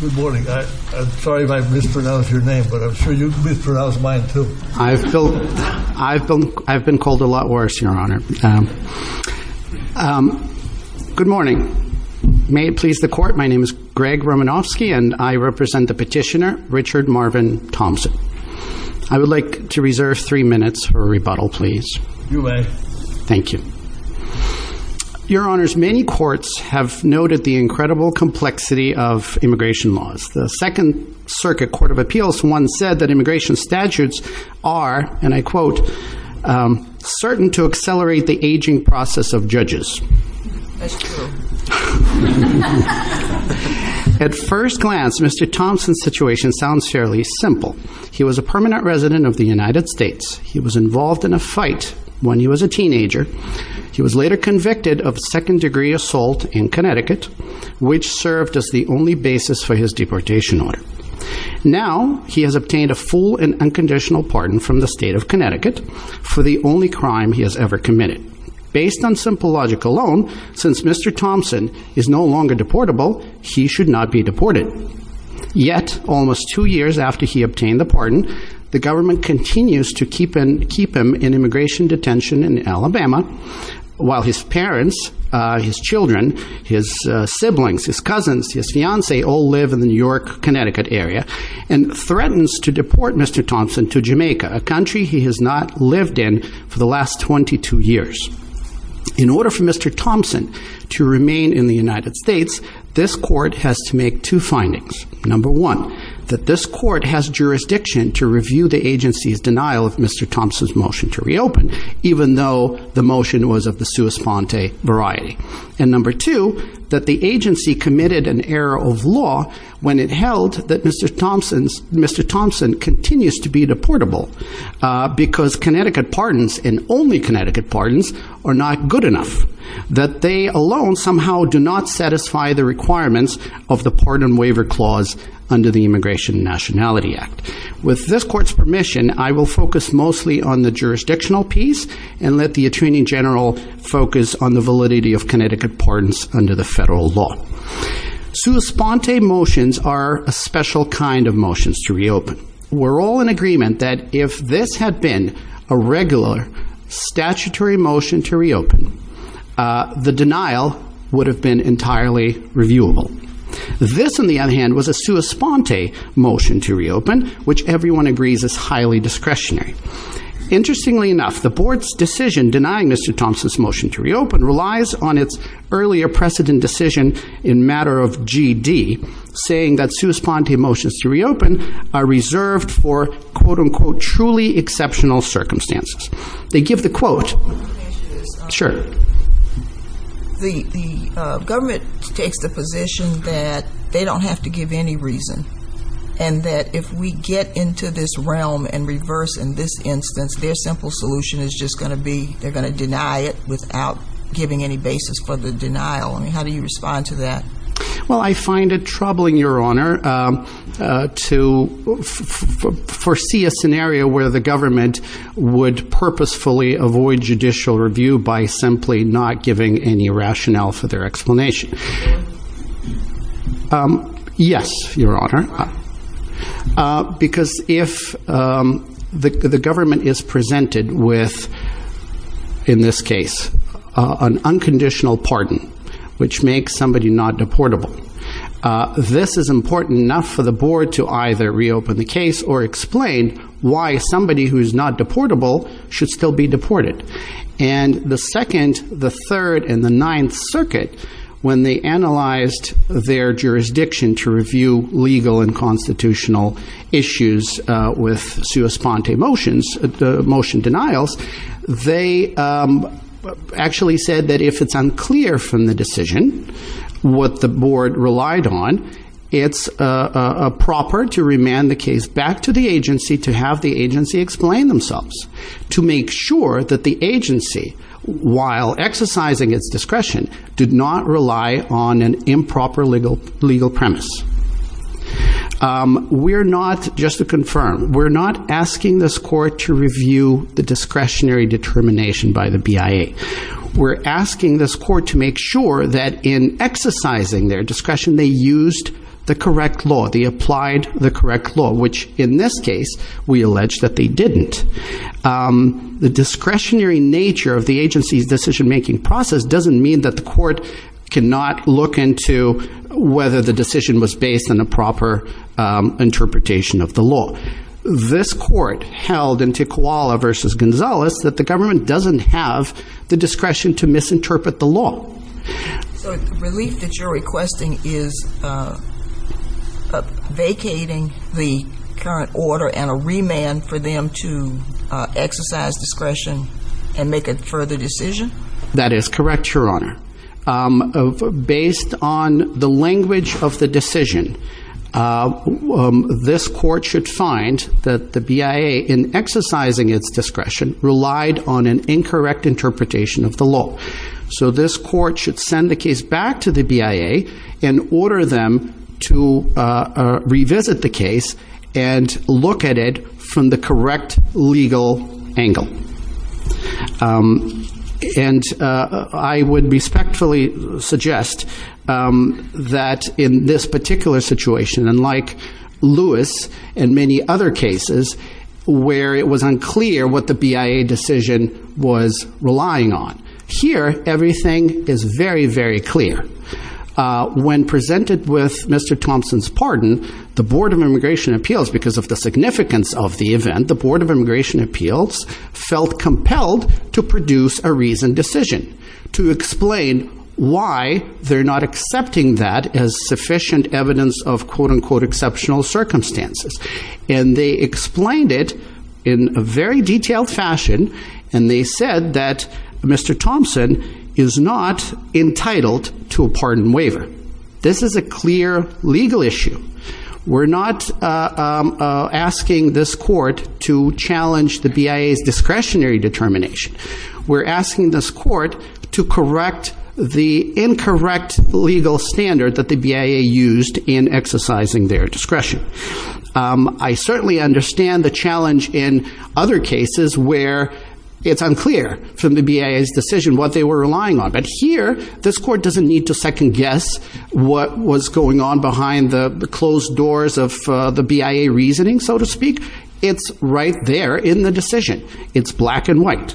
Good morning. I'm sorry if I mispronounced your name, but I'm sure you mispronounced mine too. I've been called a lot worse, Your Honor. Good morning. May it please the Court, my name is David Romanofsky and I represent the petitioner, Richard Marvin Thompson. I would like to reserve three minutes for a rebuttal, please. Thank you. Your Honors, many courts have noted the incredible complexity of immigration laws. The Second Circuit Court of Appeals once said that immigration statutes are, and I quote, quote, certain to accelerate the aging process of judges. At first glance, Mr. Thompson's situation sounds fairly simple. He was a permanent resident of the United States. He was involved in a fight when he was a teenager. He was later convicted of second-degree assault in Connecticut, which served as the only basis for his deportation order. Now, he has obtained a full and unconditional pardon from the state of Connecticut for the only crime he has ever committed. Based on simple logic alone, since Mr. Thompson is no longer deportable, he should not be deported. Yet, almost two years after he obtained the pardon, the government continues to keep him in immigration detention in Alabama, while his parents, his children, his siblings, his cousins, his fiancée all live in the New York, Connecticut area, and threatens to deport Mr. Thompson to Jamaica, a country he has not lived in for the last 22 years. In order for Mr. Thompson to remain in the United States, this court has to make two findings. Number one, that this court has jurisdiction to review the agency's denial of Mr. Thompson's motion to reopen, even though the motion was of the sua sponte variety. And number two, that the agency committed an error of law when it held that Mr. Thompson continues to be deportable, because Connecticut pardons and only Connecticut pardons are not good enough, that they alone somehow do not satisfy the requirements of the pardon waiver clause under the Immigration and Nationality Act. With this court's permission, I will focus mostly on the jurisdictional piece and let the attorney general focus on the validity of Connecticut pardons under the federal law. Sua sponte motions are a special kind of motions to reopen. We're all in agreement that if this had been a regular statutory motion to reopen, the denial would have been entirely reviewable. This, on the other hand, was a sua sponte motion to reopen, which everyone agrees is highly discretionary. Interestingly enough, the board's decision denying Mr. Thompson's motion to reopen relies on its earlier precedent decision in matter of G.D. saying that sua sponte motions to reopen are reserved for, quote unquote, truly exceptional circumstances. They give the quote, sure. The government takes the position that they don't have to give any reason, and that if we get into this realm and reverse in this instance, their simple solution is just going to be they're going to deny it without giving any basis for the denial. I mean, how do you respond to that? Well, I find it troubling, Your Honor, to foresee a scenario where the government would purposefully avoid judicial review by simply not giving any rationale for their explanation. Yes, Your Honor, because if the government is presented with, in this case, an unconditional pardon which makes somebody not deportable, this is important enough for the board to either reopen the case or explain why somebody who is not deportable should still be deported. And the second, the third, and the ninth circuit, when they analyzed their jurisdiction to review legal and constitutional issues with sua sponte motions, the motion denials, they actually said that if it's unclear from the decision what the board relied on, it's proper to remand the case back to the agency to have the agency explain themselves, to make sure that the agency, while exercising its discretion, did not rely on an improper legal premise. We're not, just to confirm, we're not asking this court to review the discretionary determination by the BIA. We're asking this court to make sure that in exercising their discretion, they used the correct law, they applied the correct law, which in this case, we allege that they didn't. The discretionary nature of the agency's decision-making process doesn't mean that the court cannot look into whether the decision was based on a proper interpretation of the law. This court held in Tiquala v. Gonzalez that the government doesn't have the discretion to misinterpret the law. So the relief that you're requesting is vacating the current order and a remand for them to exercise discretion and make a further decision? That is correct, Your Honor. Based on the language of the decision, this court should find that the BIA, in exercising its discretion, relied on an incorrect interpretation of the law. So this court should send the case back to the BIA and order them to revisit the case and look at it from the correct legal angle. And I would respectfully suggest that in this case, the BIA should not have relied on an incorrect interpretation of the law. In the other cases where it was unclear what the BIA decision was relying on, here, everything is very, very clear. When presented with Mr. Thompson's pardon, the Board of Immigration Appeals, because of the significance of the event, the Board of Immigration Appeals felt compelled to produce a reasoned decision to explain why they're not accepting that as a pardon. And they explained it in a very detailed fashion, and they said that Mr. Thompson is not entitled to a pardon waiver. This is a clear legal issue. We're not asking this court to challenge the BIA's discretionary determination. We're asking this court to correct the incorrect legal standard that the BIA used in exercising their discretion. I certainly understand the challenge in other cases where it's unclear from the BIA's decision what they were relying on. But here, this court doesn't need to second guess what was going on behind the closed doors of the BIA reasoning, so to speak. It's right there in the decision. It's black and white.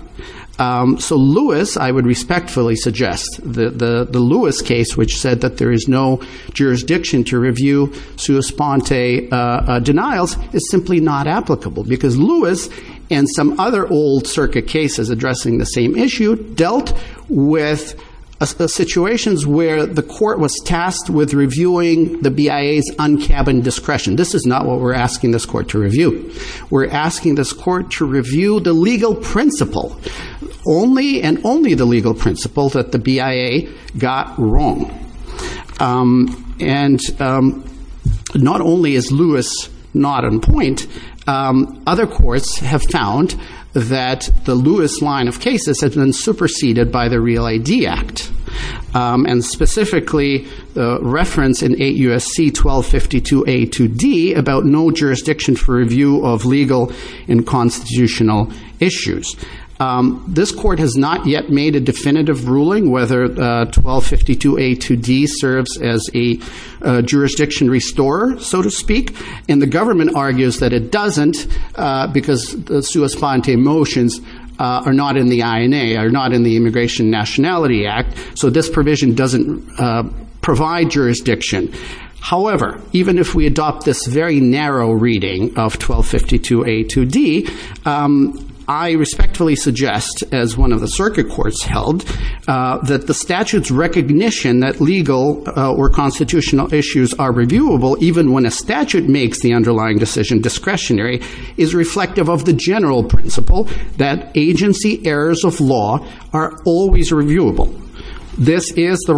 So Lewis, I would respectfully suggest, the Lewis case, which said that there is no jurisdiction to review sua sponte denials, is simply not applicable. Because Lewis and some other old circuit cases addressing the same issue dealt with situations where the court was tasked with reviewing the BIA's un-cabined discretion. This is not what we're asking this court to review. We're asking this court to review the legal principle, only and only the legal principle that the BIA got wrong. And not only is Lewis not on point, other courts have found that the Lewis line of cases has been superseded by the Real A.D. Act, and specifically the reference in 8 U.S.C. 1252 A to D about no jurisdiction for review of legal and constitutional issues. This court has not yet made a definitive ruling whether 1252 A to D serves as a jurisdiction restorer, so to speak. And the government argues that it doesn't, because the sua sponte motions are not in the INA, are not in the Immigration Nationality Act, so this provision doesn't provide jurisdiction. However, even if we adopt this very narrow reading of 1252 A to D, I respectfully suggest, as one of the circuit courts held, that the statute's recognition that legal or constitutional issues are reviewable even when a statute makes the underlying decision discretionary is reflective of the general principle that agency errors of law are always reviewable. This is the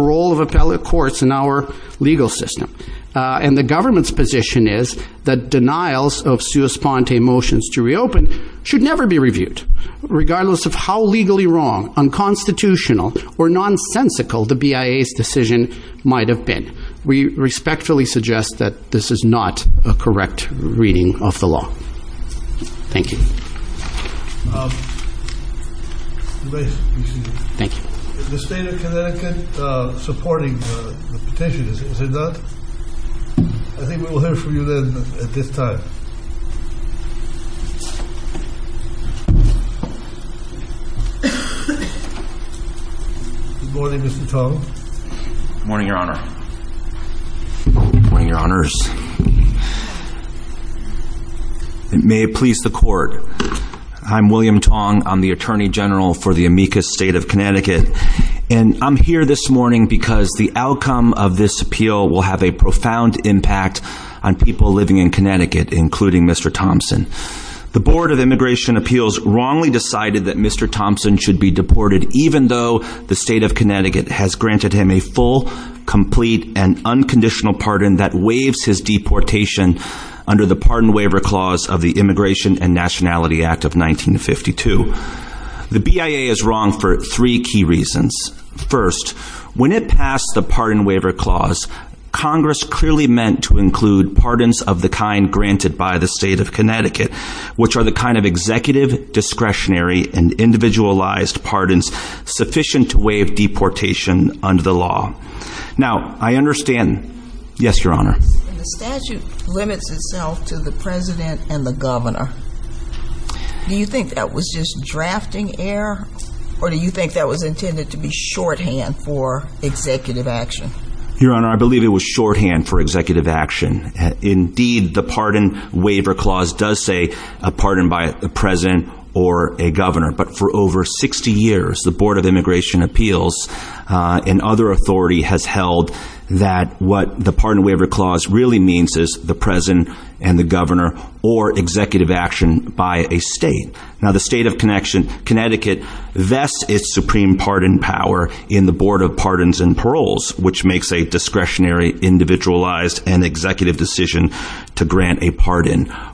case in our legal system. And the government's position is that denials of sua sponte motions to reopen should never be reviewed, regardless of how legally wrong, unconstitutional, or nonsensical the BIA's decision might have been. We respectfully suggest that this is not a correct reading of the law. Thank you. The State of Connecticut supporting the petition, is it not? I think we will hear from you then at this time. Good morning, Mr. Chauvin. Good morning, Your Honor. Good morning, Your Honors. And may it please the court, I'm William Tong. I'm the Attorney General for the Amicus State of Connecticut. And I'm here this morning because the outcome of this appeal will have a profound impact on people living in Connecticut, including Mr. Thompson. The Board of Immigration Appeals wrongly decided that Mr. Thompson should be deported, even though the State of Connecticut has granted him a full, complete, and unconditional pardon that waives his deportation under the Pardon Waiver Clause of the Immigration and Nationality Act of 1952. The BIA is wrong for three key reasons. First, when it passed the Pardon Waiver Clause, Congress clearly meant to include pardons of the kind granted by the State of Connecticut, which are the kind of executive, discretionary, and individualized pardons sufficient to waive deportation under the law. Now, I understand... Yes, Your Honor. The statute limits itself to the President and the Governor. Do you think that was just drafting error, or do you think that was intended to be shorthand for executive action? Your Honor, I believe it was shorthand for executive action. Indeed, the Pardon Waiver Clause does say a pardon by a President or a Governor, but for over 60 years, the Board of Immigration Appeals and other authority has held that what the Pardon Waiver Clause really means is the President and the Governor, or executive action by a state. Now, the State of Connecticut vests its supreme pardon power in the Board of Pardons and Paroles, which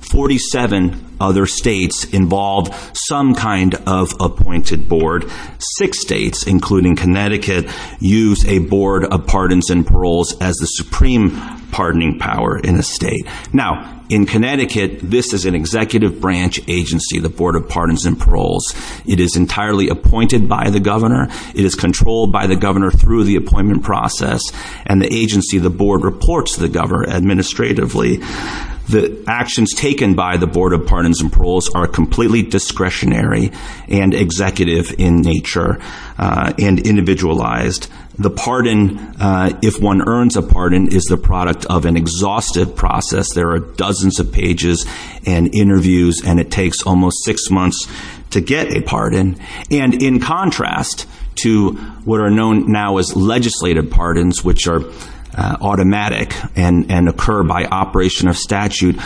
47 other states involve some kind of appointed board. Six states, including Connecticut, use a Board of Pardons and Paroles as the supreme pardoning power in a state. Now, in Connecticut, this is an executive branch agency, the Board of Pardons and Paroles. It is entirely appointed by the Governor. It is controlled by the Governor through the appointment process, and the agency, the Board, reports to the Governor administratively. The actions taken by the Board of Pardons and Paroles are completely discretionary and executive in nature and individualized. The pardon, if one earns a pardon, is the product of an exhaustive process. There are dozens of pages and interviews, and it takes almost six months to get a pardon. And in contrast to what are known now as legislative pardons, which are automatic and occur by operation of statute,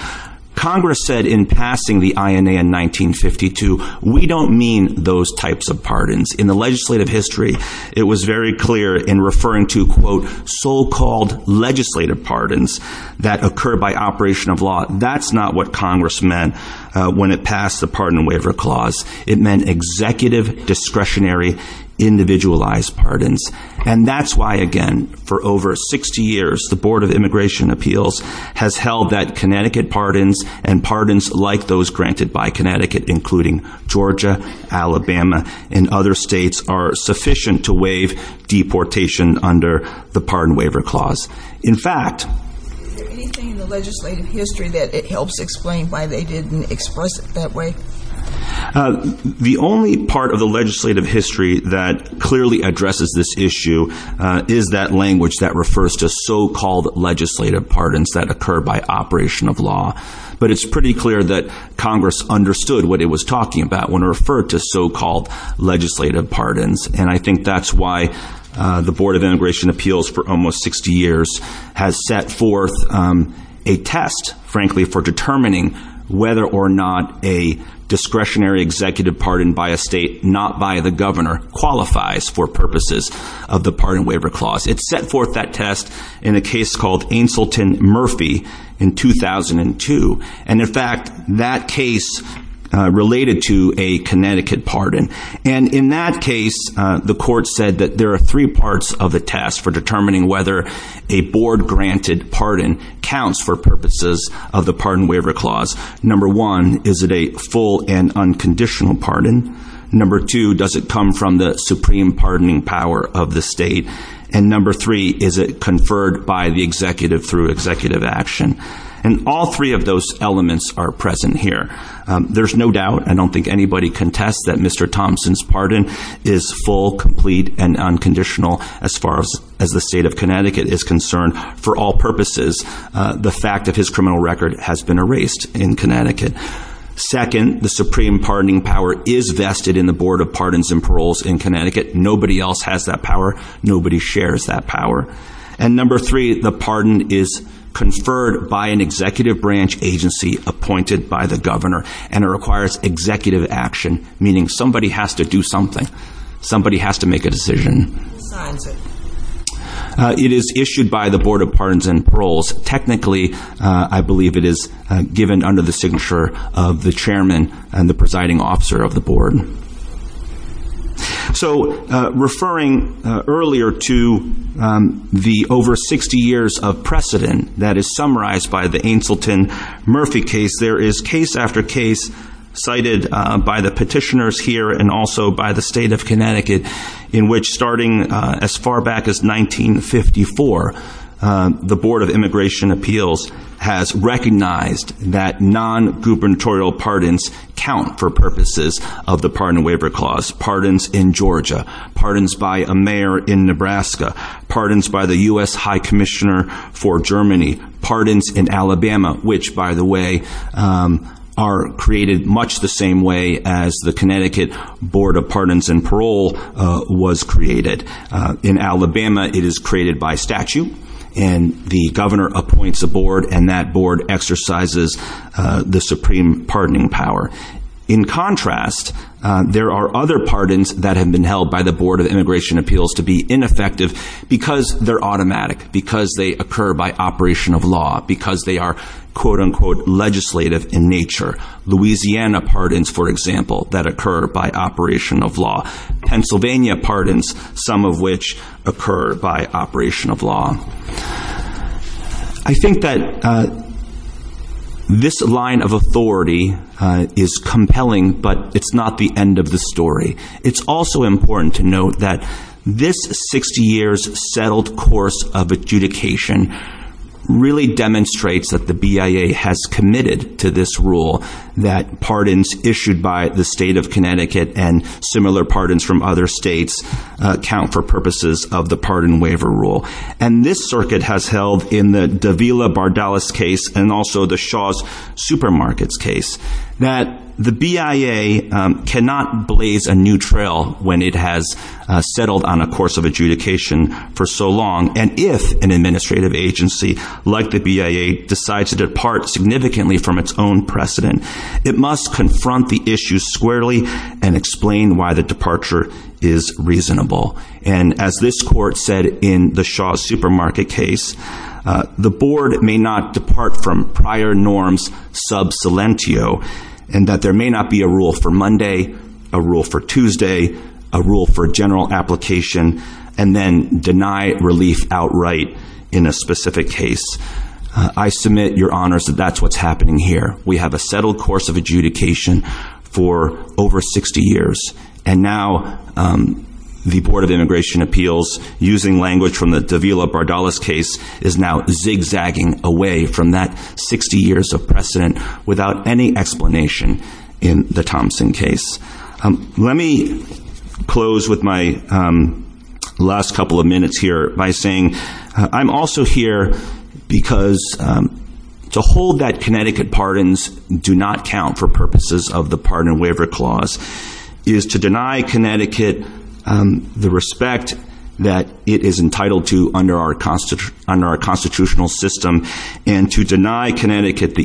Congress said in passing the INA in 1952, we don't mean those types of pardons. In the legislative history, it was very clear in referring to, quote, so-called legislative pardons that occur by operation of law. That's not what Congress meant when it passed the Pardon Waiver Clause. It meant executive, discretionary, individualized pardons. And that's why, again, for over 60 years, the Board of Immigration Appeals has held that Connecticut pardons and pardons like those granted by Connecticut, including Georgia, Alabama, and other states, are sufficient to waive deportation under the Pardon Waiver Clause. In fact... Is there anything in the legislative history that helps explain why they didn't express it that way? The only part of the legislative history that clearly addresses this issue is that language that refers to so-called legislative pardons that occur by operation of law. But it's pretty clear that Congress understood what it was talking about when it referred to so-called legislative pardons. And I think that's why the Board of Immigration Appeals, for almost discretionary executive pardon by a state not by the governor, qualifies for purposes of the Pardon Waiver Clause. It set forth that test in a case called Ainsilton-Murphy in 2002. And in fact, that case related to a Connecticut pardon. And in that case, the court said that there are three parts of the test for determining whether a board-granted pardon counts for purposes of the Pardon Waiver Clause. Number one, is it a full and unconditional pardon? Number two, does it come from the supreme pardoning power of the state? And number three, is it conferred by the executive through executive action? And all three of those elements are present here. There's no doubt, I don't think anybody contests, that Mr. Thompson's pardon is full, complete, and unconditional as far as the state of Connecticut is concerned. For all purposes, the fact that his criminal record has been erased in Connecticut. Second, the supreme pardoning power is vested in the Board of Pardons and Paroles in Connecticut. Nobody else has that power. Nobody shares that power. And number three, the pardon is conferred by an executive branch agency appointed by the governor. And it requires executive action, meaning somebody has to do something. Somebody has to make a decision. Who signs it? It is issued by the Board of Pardons and Paroles. Technically, I believe it is given under the signature of the chairman and the presiding officer of the board. So, referring earlier to the over 60 years of precedent that is summarized by the Ainsilton-Murphy case, there is case after case cited by the petitioners here and also by the state of Connecticut in which, starting as far back as 1954, the Board of Immigration Appeals has recognized that non-gubernatorial pardons count for purposes of the Pardon and Waiver Clause. Pardons in Georgia, pardons by a mayor in Nebraska, pardons by the U.S. High Commissioner for Germany, pardons in Alabama, which, by the way, are created much the same way as the was created. In Alabama, it is created by statute, and the governor appoints a board, and that board exercises the supreme pardoning power. In contrast, there are other pardons that have been held by the Board of Immigration Appeals to be ineffective because they're automatic, because they occur by operation of law, because they are, quote-unquote, legislative in nature. Louisiana pardons, for example, that occur by operation of law. Pennsylvania pardons, some of which occur by operation of law. I think that this line of authority is compelling, but it's not the end of the story. It's also important to note that this 60 years settled course of adjudication really demonstrates that the BIA has committed to this rule that pardons issued by the state of Connecticut and similar pardons from other states count for purposes of the Pardon Waiver Rule. And this circuit has held in the Davila-Bardalis case and also the Shaw's Supermarkets case that the BIA cannot blaze a new trail when it has settled on a course of adjudication for so long. And if an administrative agency like the BIA decides to depart significantly from its own precedent, it must confront the issue squarely and explain why the departure is reasonable. And as this court said in the Shaw's Supermarket case, the board may not depart from prior norms sub silentio and that there may not be a rule for Monday, a rule for deny relief outright in a specific case. I submit your honors that that's what's happening here. We have a settled course of adjudication for over 60 years and now the Board of Immigration Appeals using language from the Davila-Bardalis case is now zigzagging away from that 60 years of precedent without any explanation in the Thompson case. Let me close with my last couple of minutes here by saying I'm also here because to hold that Connecticut pardons do not count for purposes of the Pardon and Waiver Clause is to deny Connecticut the respect that it is entitled to under our constitutional system and to deny Connecticut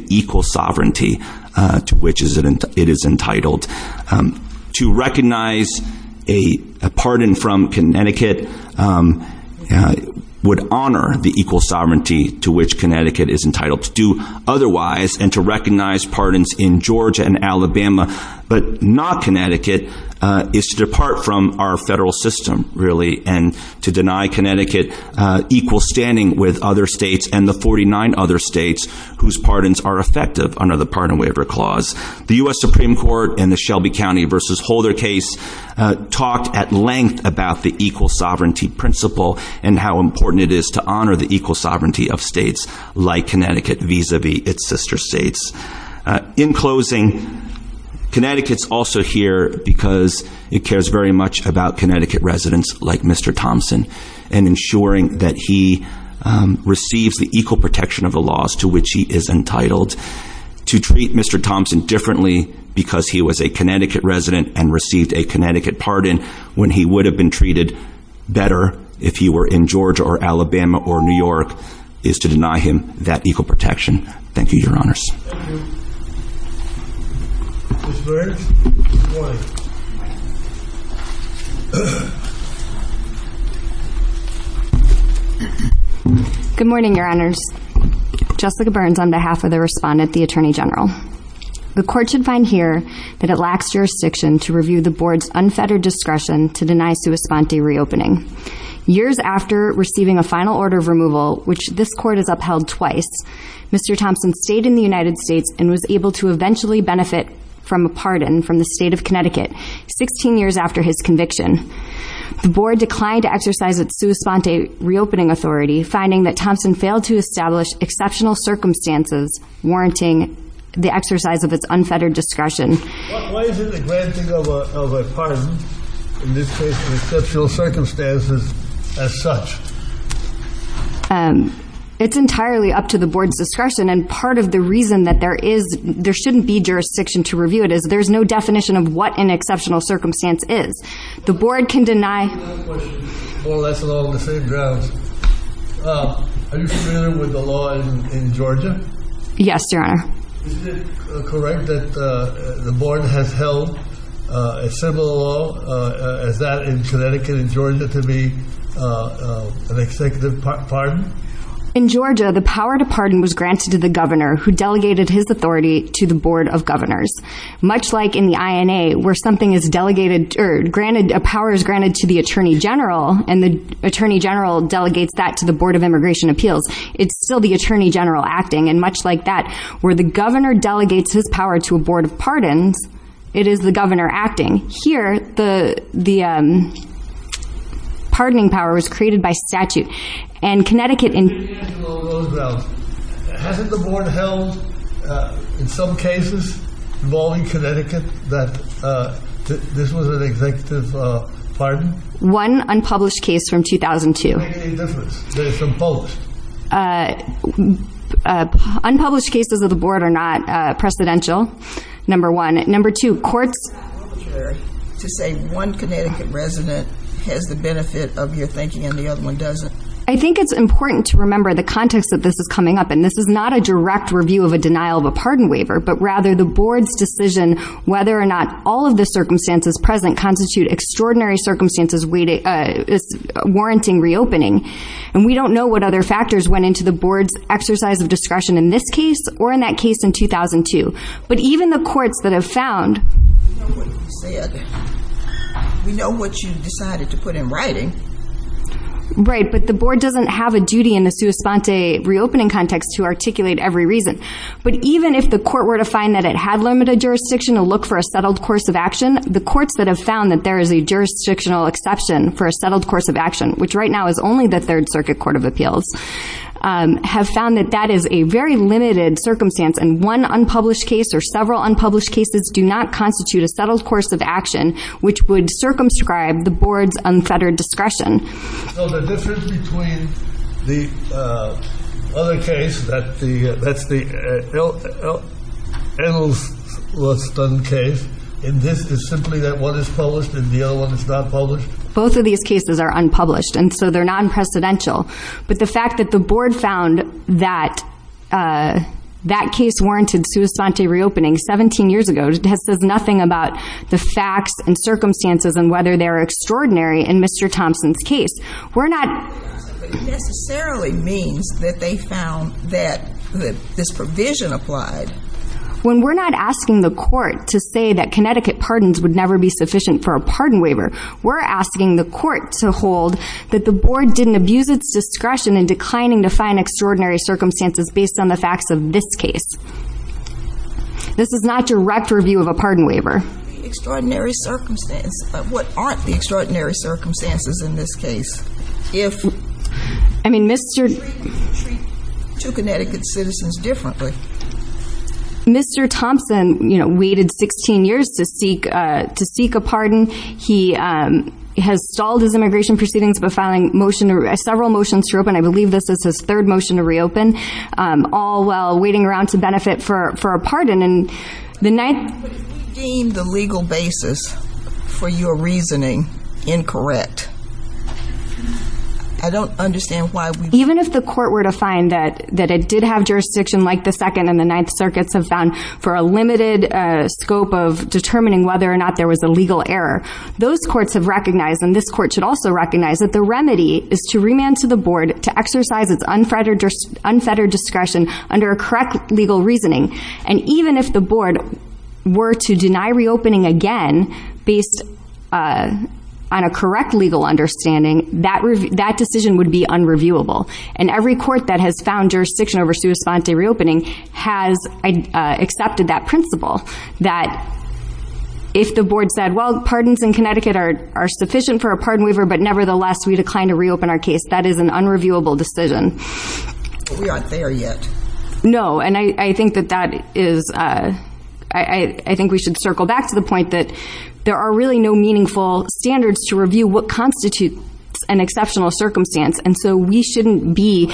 would honor the equal sovereignty to which Connecticut is entitled to do otherwise and to recognize pardons in Georgia and Alabama but not Connecticut is to depart from our federal system really and to deny Connecticut equal standing with other states and the 49 other states whose pardons are effective under the Pardon and Waiver Clause. The U.S. Supreme Court and the Shelby County v. Holder case talked at length about the equal sovereignty principle and how important it is to honor the equal sovereignty of states like Connecticut vis-a-vis its sister states. In closing, Connecticut's also here because it cares very much about Connecticut residents like Mr. Thompson and ensuring that he receives the equal protection of the laws to which he is entitled. To treat Mr. Thompson differently because he was a Connecticut resident and received a Connecticut pardon when he would have been treated better if he were in Georgia or Alabama or New York is to deny him that equal protection. Thank you, Your Honors. Good morning, Your Honors. Jessica Burns on behalf of the respondent, the Attorney General. The court should find here that it lacks jurisdiction to review the board's unfettered discretion to deny sua sponte reopening. Years after receiving a final order of removal, which this court has upheld twice, Mr. Thompson stayed in the United States and was able to eventually benefit from a pardon from the state of Connecticut 16 years after his conviction. The board declined to exercise its sua sponte reopening authority, finding that Thompson failed to establish exceptional circumstances warranting the exercise of its unfettered discretion. Why is it a granting of a pardon in this case in exceptional circumstances as such? It's entirely up to the board's discretion and part of the reason that there shouldn't be jurisdiction to review it is there's no definition of what an exceptional circumstance is. The board can deny... I have a question more or less along the same grounds. Are you familiar with the law in Georgia? Yes, Your Honor. Is it correct that the board has held a similar law as that in Connecticut and Georgia to be an executive pardon? In Georgia, the power to pardon was granted to the governor who delegated his authority to the board of granted... A power is granted to the attorney general and the attorney general delegates that to the board of immigration appeals. It's still the attorney general acting and much like that where the governor delegates his power to a board of pardons, it is the governor acting. Here, the pardoning power was created by statute and Connecticut... Hasn't the board held in some cases involving Connecticut that this was an executive pardon? One unpublished case from 2002. Unpublished cases of the board are not precedential, number one. Number two, courts... To say one Connecticut resident has the benefit of your thinking and the other one doesn't. I think it's important to remember the context that this is coming up in. This is not a direct review of a denial of a pardon waiver, but rather the board's decision whether or not all of the circumstances present constitute extraordinary circumstances warranting reopening. And we don't know what other factors went into the board's exercise of discretion in this case or in that case in 2002, but even the courts that have found... We know what you said. We know what you decided to put in writing. Right, but the board doesn't have a duty in the sua sponte reopening context to articulate every reason. But even if the court were to find that it had limited jurisdiction to look for a settled course of action, the courts that have found that there is a jurisdictional exception for a settled course of action, which right now is only the Third Circuit Court of Appeals, have found that that is a very limited circumstance and one unpublished case or several unpublished cases do not constitute a settled course of action which would circumscribe the board's unfettered discretion. So the difference between the other case, that's the Edelstein case, and this is simply that one is published and the other one is not published? Both of these cases are unpublished, and so they're non-precedential. But the fact that the board found that that case warranted sua says nothing about the facts and circumstances and whether they are extraordinary in Mr. Thompson's case. We're not... It necessarily means that they found that this provision applied. When we're not asking the court to say that Connecticut pardons would never be sufficient for a pardon waiver, we're asking the court to hold that the board didn't abuse its discretion in declining to find extraordinary circumstances based on the facts of this case. This is not direct review of a pardon waiver. Extraordinary circumstances, but what aren't the extraordinary circumstances in this case, if... I mean, Mr. You treat two Connecticut citizens differently. Mr. Thompson, you know, waited 16 years to seek a pardon. He has stalled his immigration proceedings by filing several motions to reopen. I believe this is his third motion to reopen, all while waiting around to benefit for a pardon, and the ninth... But if we deem the legal basis for your reasoning incorrect, I don't understand why we... Even if the court were to find that it did have jurisdiction like the Second and the Ninth Circuits have found for a limited scope of determining whether or not there was a legal error, those courts have recognized, and this court should also recognize, that the remedy is to remand to the board to exercise its unfettered discretion under a correct legal reasoning. And even if the board were to deny reopening again based on a correct legal understanding, that decision would be unreviewable. And every court that has found jurisdiction over sua sponte reopening has accepted that principle, that if the board said, well, pardons in Connecticut are sufficient for a pardon waiver, but nevertheless, we declined to reopen our case. That is an unreviewable decision. We aren't there yet. No, and I think that that is... I think we should circle back to the point that there are really no meaningful standards to review what constitutes an exceptional circumstance, and so we shouldn't be...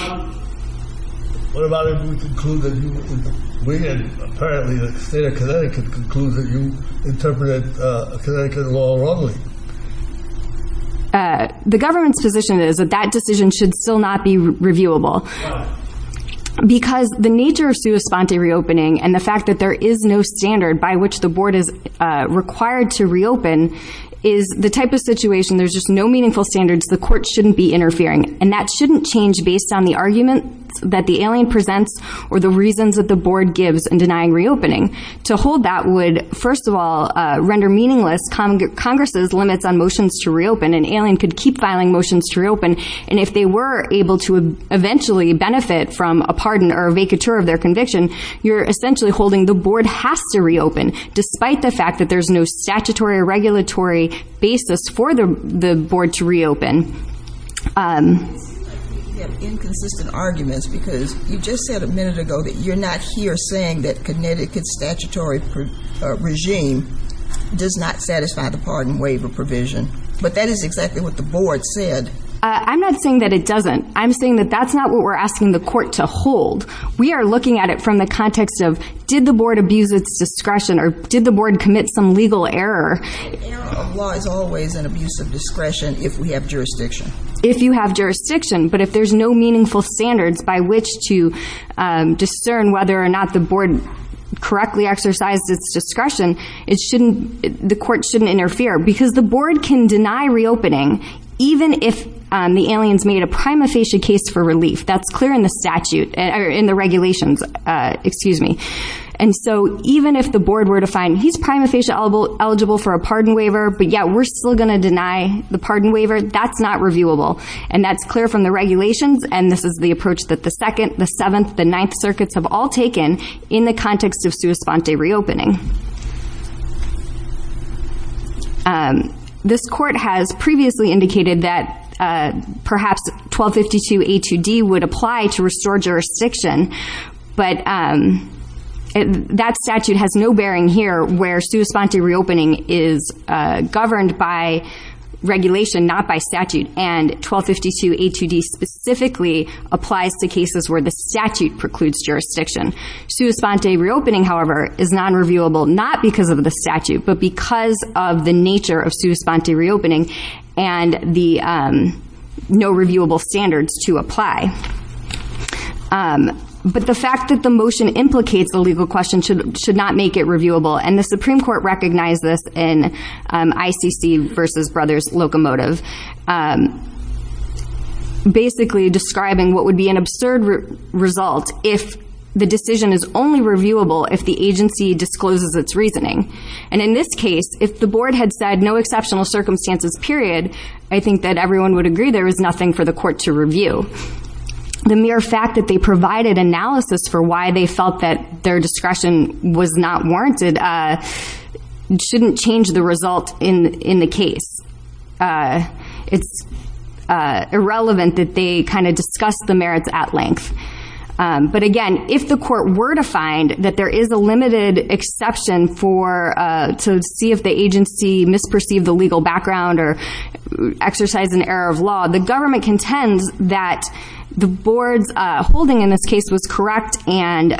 What about if we conclude that you, we, and apparently the state of Connecticut, conclude that you interpreted Connecticut law wrongly? Uh, the government's position is that that decision should still not be reviewable. Because the nature of sua sponte reopening, and the fact that there is no standard by which the board is required to reopen, is the type of situation, there's just no meaningful standards, the court shouldn't be interfering. And that shouldn't change based on the arguments that the alien presents, or the reasons that the board gives in denying reopening. To hold that would, first of all, render meaningless Congress's limits on motions to reopen. An alien could keep filing motions to reopen, and if they were able to eventually benefit from a pardon or a vacatur of their conviction, you're essentially holding the board has to reopen, despite the fact that there's no statutory or regulatory basis for the board to reopen. You have inconsistent arguments, because you just said a minute ago that you're not here that Connecticut's statutory regime does not satisfy the pardon waiver provision. But that is exactly what the board said. I'm not saying that it doesn't. I'm saying that that's not what we're asking the court to hold. We are looking at it from the context of, did the board abuse its discretion, or did the board commit some legal error? Error of law is always an abuse of discretion if we have jurisdiction. If you have jurisdiction, but if there's no meaningful standards by which to correctly exercise its discretion, the court shouldn't interfere, because the board can deny reopening, even if the aliens made a prima facie case for relief. That's clear in the regulations. Even if the board were to find, he's prima facie eligible for a pardon waiver, but yet we're still going to deny the pardon waiver, that's not reviewable. That's clear from the regulations, and this is the approach that the second, the seventh, the ninth circuits have all taken in the context of sua sponte reopening. This court has previously indicated that perhaps 1252A2D would apply to restore jurisdiction, but that statute has no bearing here where sua sponte reopening is governed by regulation, not by statute, and 1252A2D specifically applies to cases where the statute precludes jurisdiction. Sua sponte reopening, however, is non-reviewable, not because of the statute, but because of the nature of sua sponte reopening and the no reviewable standards to apply. But the fact that the motion implicates the legal question should not make it reviewable, and the Supreme Court recognized this in ICC versus Brothers Locomotive, basically describing what would be an absurd result if the decision is only reviewable if the agency discloses its reasoning. And in this case, if the board had said no exceptional circumstances period, I think that everyone would agree there is nothing for the court to review. The mere fact that they provided analysis for why they felt that their discretion was not warranted shouldn't change the result in the case. It's irrelevant that they kind of discuss the merits at length. But again, if the court were to find that there is a limited exception to see if the agency misperceived the legal background or exercised an error of law, the government contends that the board's holding in this case was correct and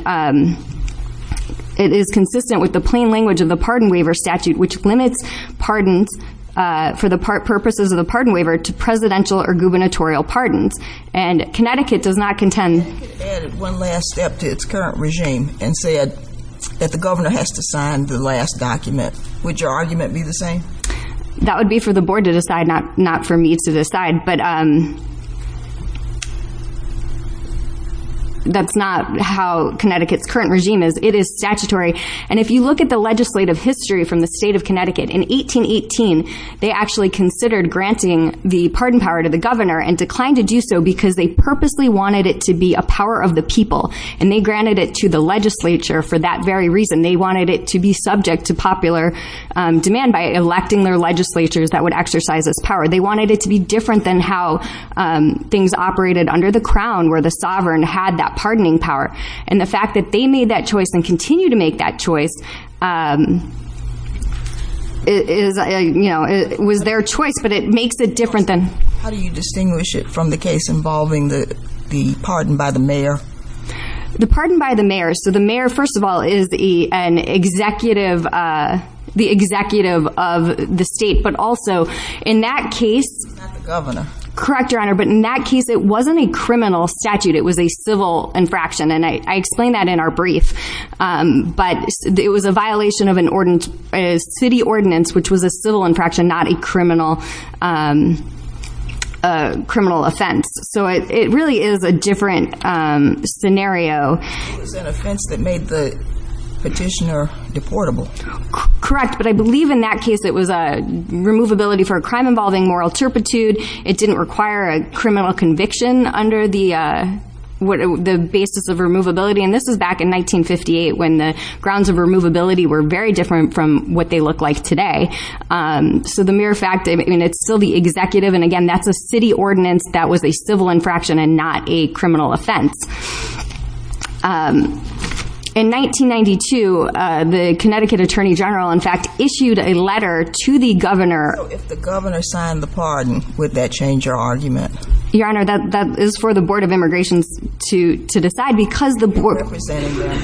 it is consistent with the plain language of the pardon waiver statute, which limits pardons for the purposes of the pardon waiver to presidential or gubernatorial pardons. And Connecticut does not contend. If Connecticut added one last step to its current regime and said that the governor has to sign the last document, would your argument be the same? That would be for the board to decide, not for me to decide. But that's not how Connecticut's current regime is. It is statutory. And if you look at the legislative history from the state of Connecticut, in 1818, they actually considered granting the pardon power to the governor and declined to do so because they purposely wanted it to be a power of the people. And they granted it to the legislature for that very reason. They wanted it to be subject to popular demand by electing their legislatures that would exercise its power. They wanted it to be different than how things operated under the crown, where the sovereign had that pardoning power. And the fact that they made that choice and continue to make that choice is, you know, it was their choice, but it makes it different than... How do you distinguish it from the case involving the pardon by the mayor? The pardon by the mayor. So the mayor, first of all, is an executive, the executive of the state, but also in that case... He's not the governor. Correct, Your Honor. But in that case, it wasn't a criminal statute. It was a civil infraction. And I explained that in our brief. But it was a violation of a city ordinance, which was a civil infraction, not a criminal offense. So it really is a different scenario. It was an offense that made the petitioner deportable. Correct. But I believe in that case, it was a removability for a crime involving moral turpitude. It didn't require a criminal conviction under the basis of removability. And this was back in 1958 when the grounds of removability were very different from what they look like today. So the mere fact, I mean, it's still the executive. And again, that's a city ordinance that was a civil infraction and not a criminal offense. In 1992, the Connecticut Attorney General, in fact, issued a letter to the governor. So if the governor signed the pardon, would that change your argument? Your Honor, that is for the Board of Immigrations to decide because the board... You're representing them?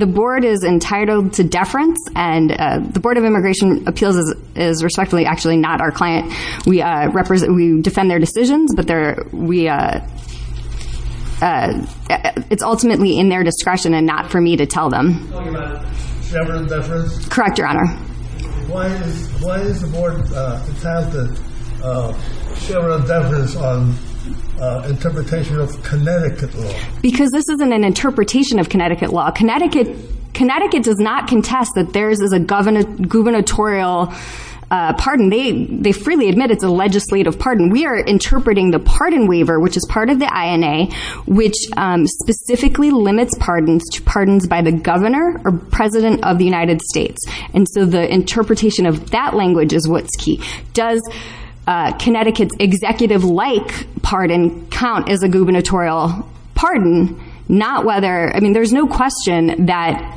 The board is entitled to deference. And the Board of Immigration Appeals is respectfully, actually not our client. We defend their decisions, but it's ultimately in their discretion and not for me to tell them. You're talking about Chevron deference? Correct, Your Honor. Why is the board entitled to Chevron deference on interpretation of Connecticut law? Because this isn't an interpretation of Connecticut law. Connecticut does not contest that theirs is a gubernatorial pardon. They freely admit it's a legislative pardon. We are interpreting the pardon waiver, which is part of the INA, which specifically limits pardons to pardons by the governor or president of the United States. And so the interpretation of that language is what's key. Does Connecticut's executive-like pardon count as a gubernatorial pardon? There's no question that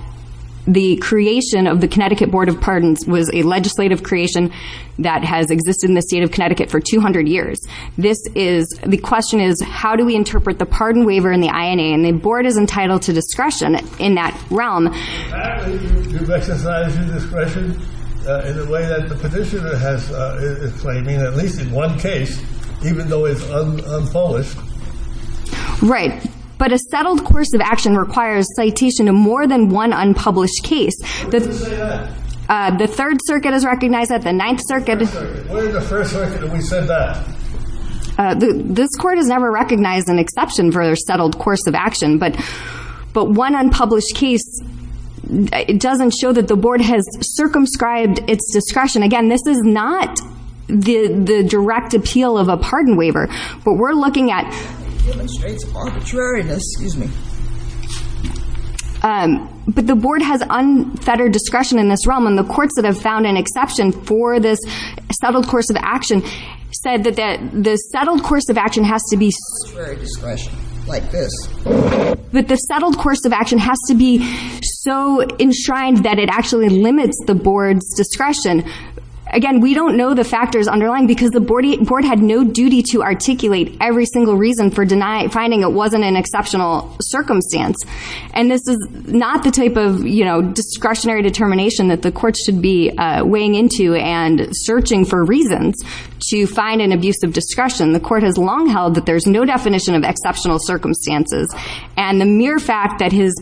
the creation of the Connecticut Board of Pardons was a legislative creation that has existed in the state of Connecticut for 200 years. The question is, how do we interpret the pardon waiver in the INA? And the board is entitled to discretion in that realm. You've exercised your discretion in the way the petitioner is claiming, at least in one case, even though it's unpolished. Right. But a settled course of action requires citation in more than one unpublished case. When did you say that? The Third Circuit has recognized that. The Ninth Circuit. When in the First Circuit did we say that? This court has never recognized an exception for their settled course of action. But one unpublished case doesn't show that the board has circumscribed its discretion. Again, this is not the direct appeal of a pardon waiver, but we're looking at... It demonstrates arbitrariness. Excuse me. But the board has unfettered discretion in this realm, and the courts that have found an exception for this settled course of action said that the settled course of action has to be... Arbitrary discretion, like this. That the settled course of action has to be so enshrined that it actually limits the board's discretion. Again, we don't know the factors underlying, because the board had no duty to articulate every single reason for finding it wasn't an exceptional circumstance. And this is not the type of discretionary determination that the court should be weighing into and searching for reasons to find an abuse of discretion. The court has long held that there's no definition of exceptional circumstances. And the mere fact that his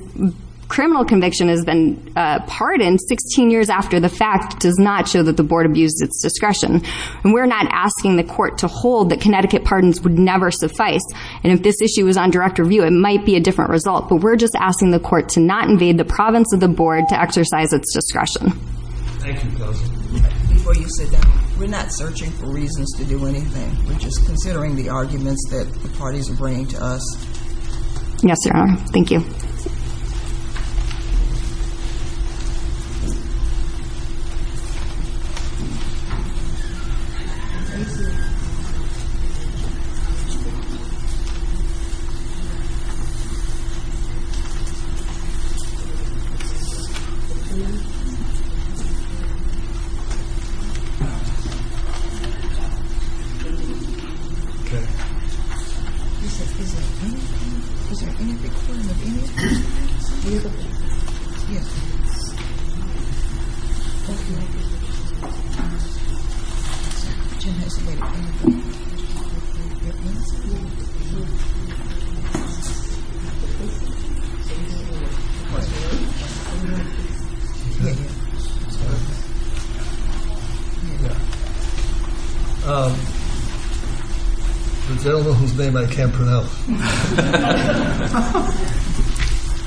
criminal conviction has been pardoned 16 years after the fact does not show that the board abused its discretion. And we're not asking the court to hold that Connecticut pardons would never suffice. And if this issue was on direct review, it might be a different result. But we're just asking the court to not invade the province of the board to exercise its discretion. Thank you, Kelsey. Before you sit down, we're not searching for reasons to do Yes, sir. Thank you. Is there any recording of any beautiful I don't know whose name I can't pronounce.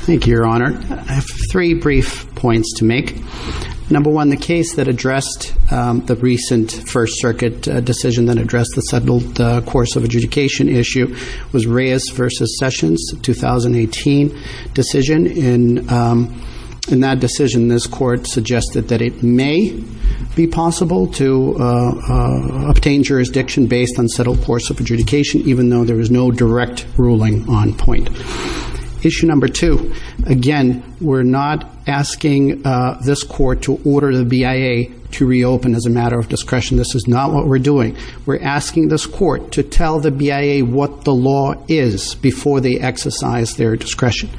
Thank you, Your Honor. I have three brief points to make. Number one, the case that addressed the recent First Circuit decision that addressed the course of adjudication issue was Reyes v. Sessions, 2018 decision. In that decision, this court suggested that it may be possible to obtain jurisdiction based on settled course of adjudication even though there was no direct ruling on point. Issue number two, again, we're not asking this court to order the BIA to reopen as a matter of discretion. This is not what we're doing. We're asking this court to tell the BIA what the law is before they exercise their discretion.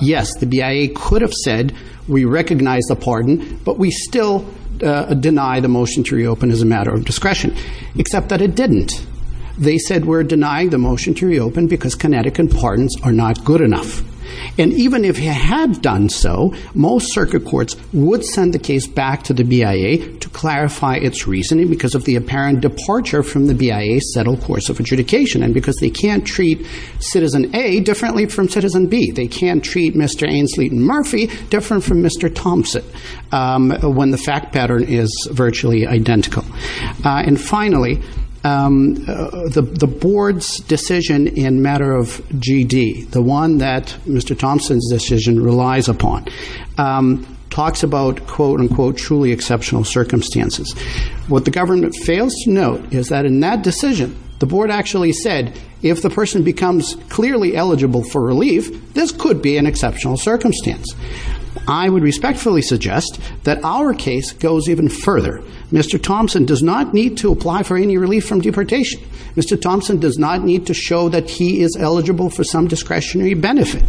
Yes, the BIA could have said we recognize the pardon, but we still deny the motion to reopen as a matter of discretion, except that it didn't. They said we're denying the motion to reopen because kinetic and pardons are not good enough. And even if it had done so, most circuit courts would send the case back to the BIA to clarify its reasoning because of the apparent departure from the BIA's settled course of adjudication and because they can't treat Citizen A differently from Citizen B. They can't treat Mr. Ainsley and Murphy different from Mr. Thompson when the fact pattern is virtually identical. And the board's decision in matter of GD, the one that Mr. Thompson's decision relies upon, talks about quote unquote truly exceptional circumstances. What the government fails to note is that in that decision, the board actually said if the person becomes clearly eligible for relief, this could be an exceptional circumstance. I would respectfully suggest that our case goes even further. Mr. Thompson does not need to apply for any relief from deportation. Mr. Thompson does not need to show that he is eligible for some discretionary benefit.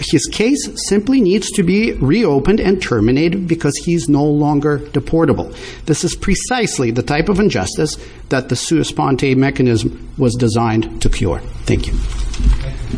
His case simply needs to be reopened and terminated because he's no longer deportable. This is precisely the type of injustice that the sua sponte mechanism was designed to cure. Thank you.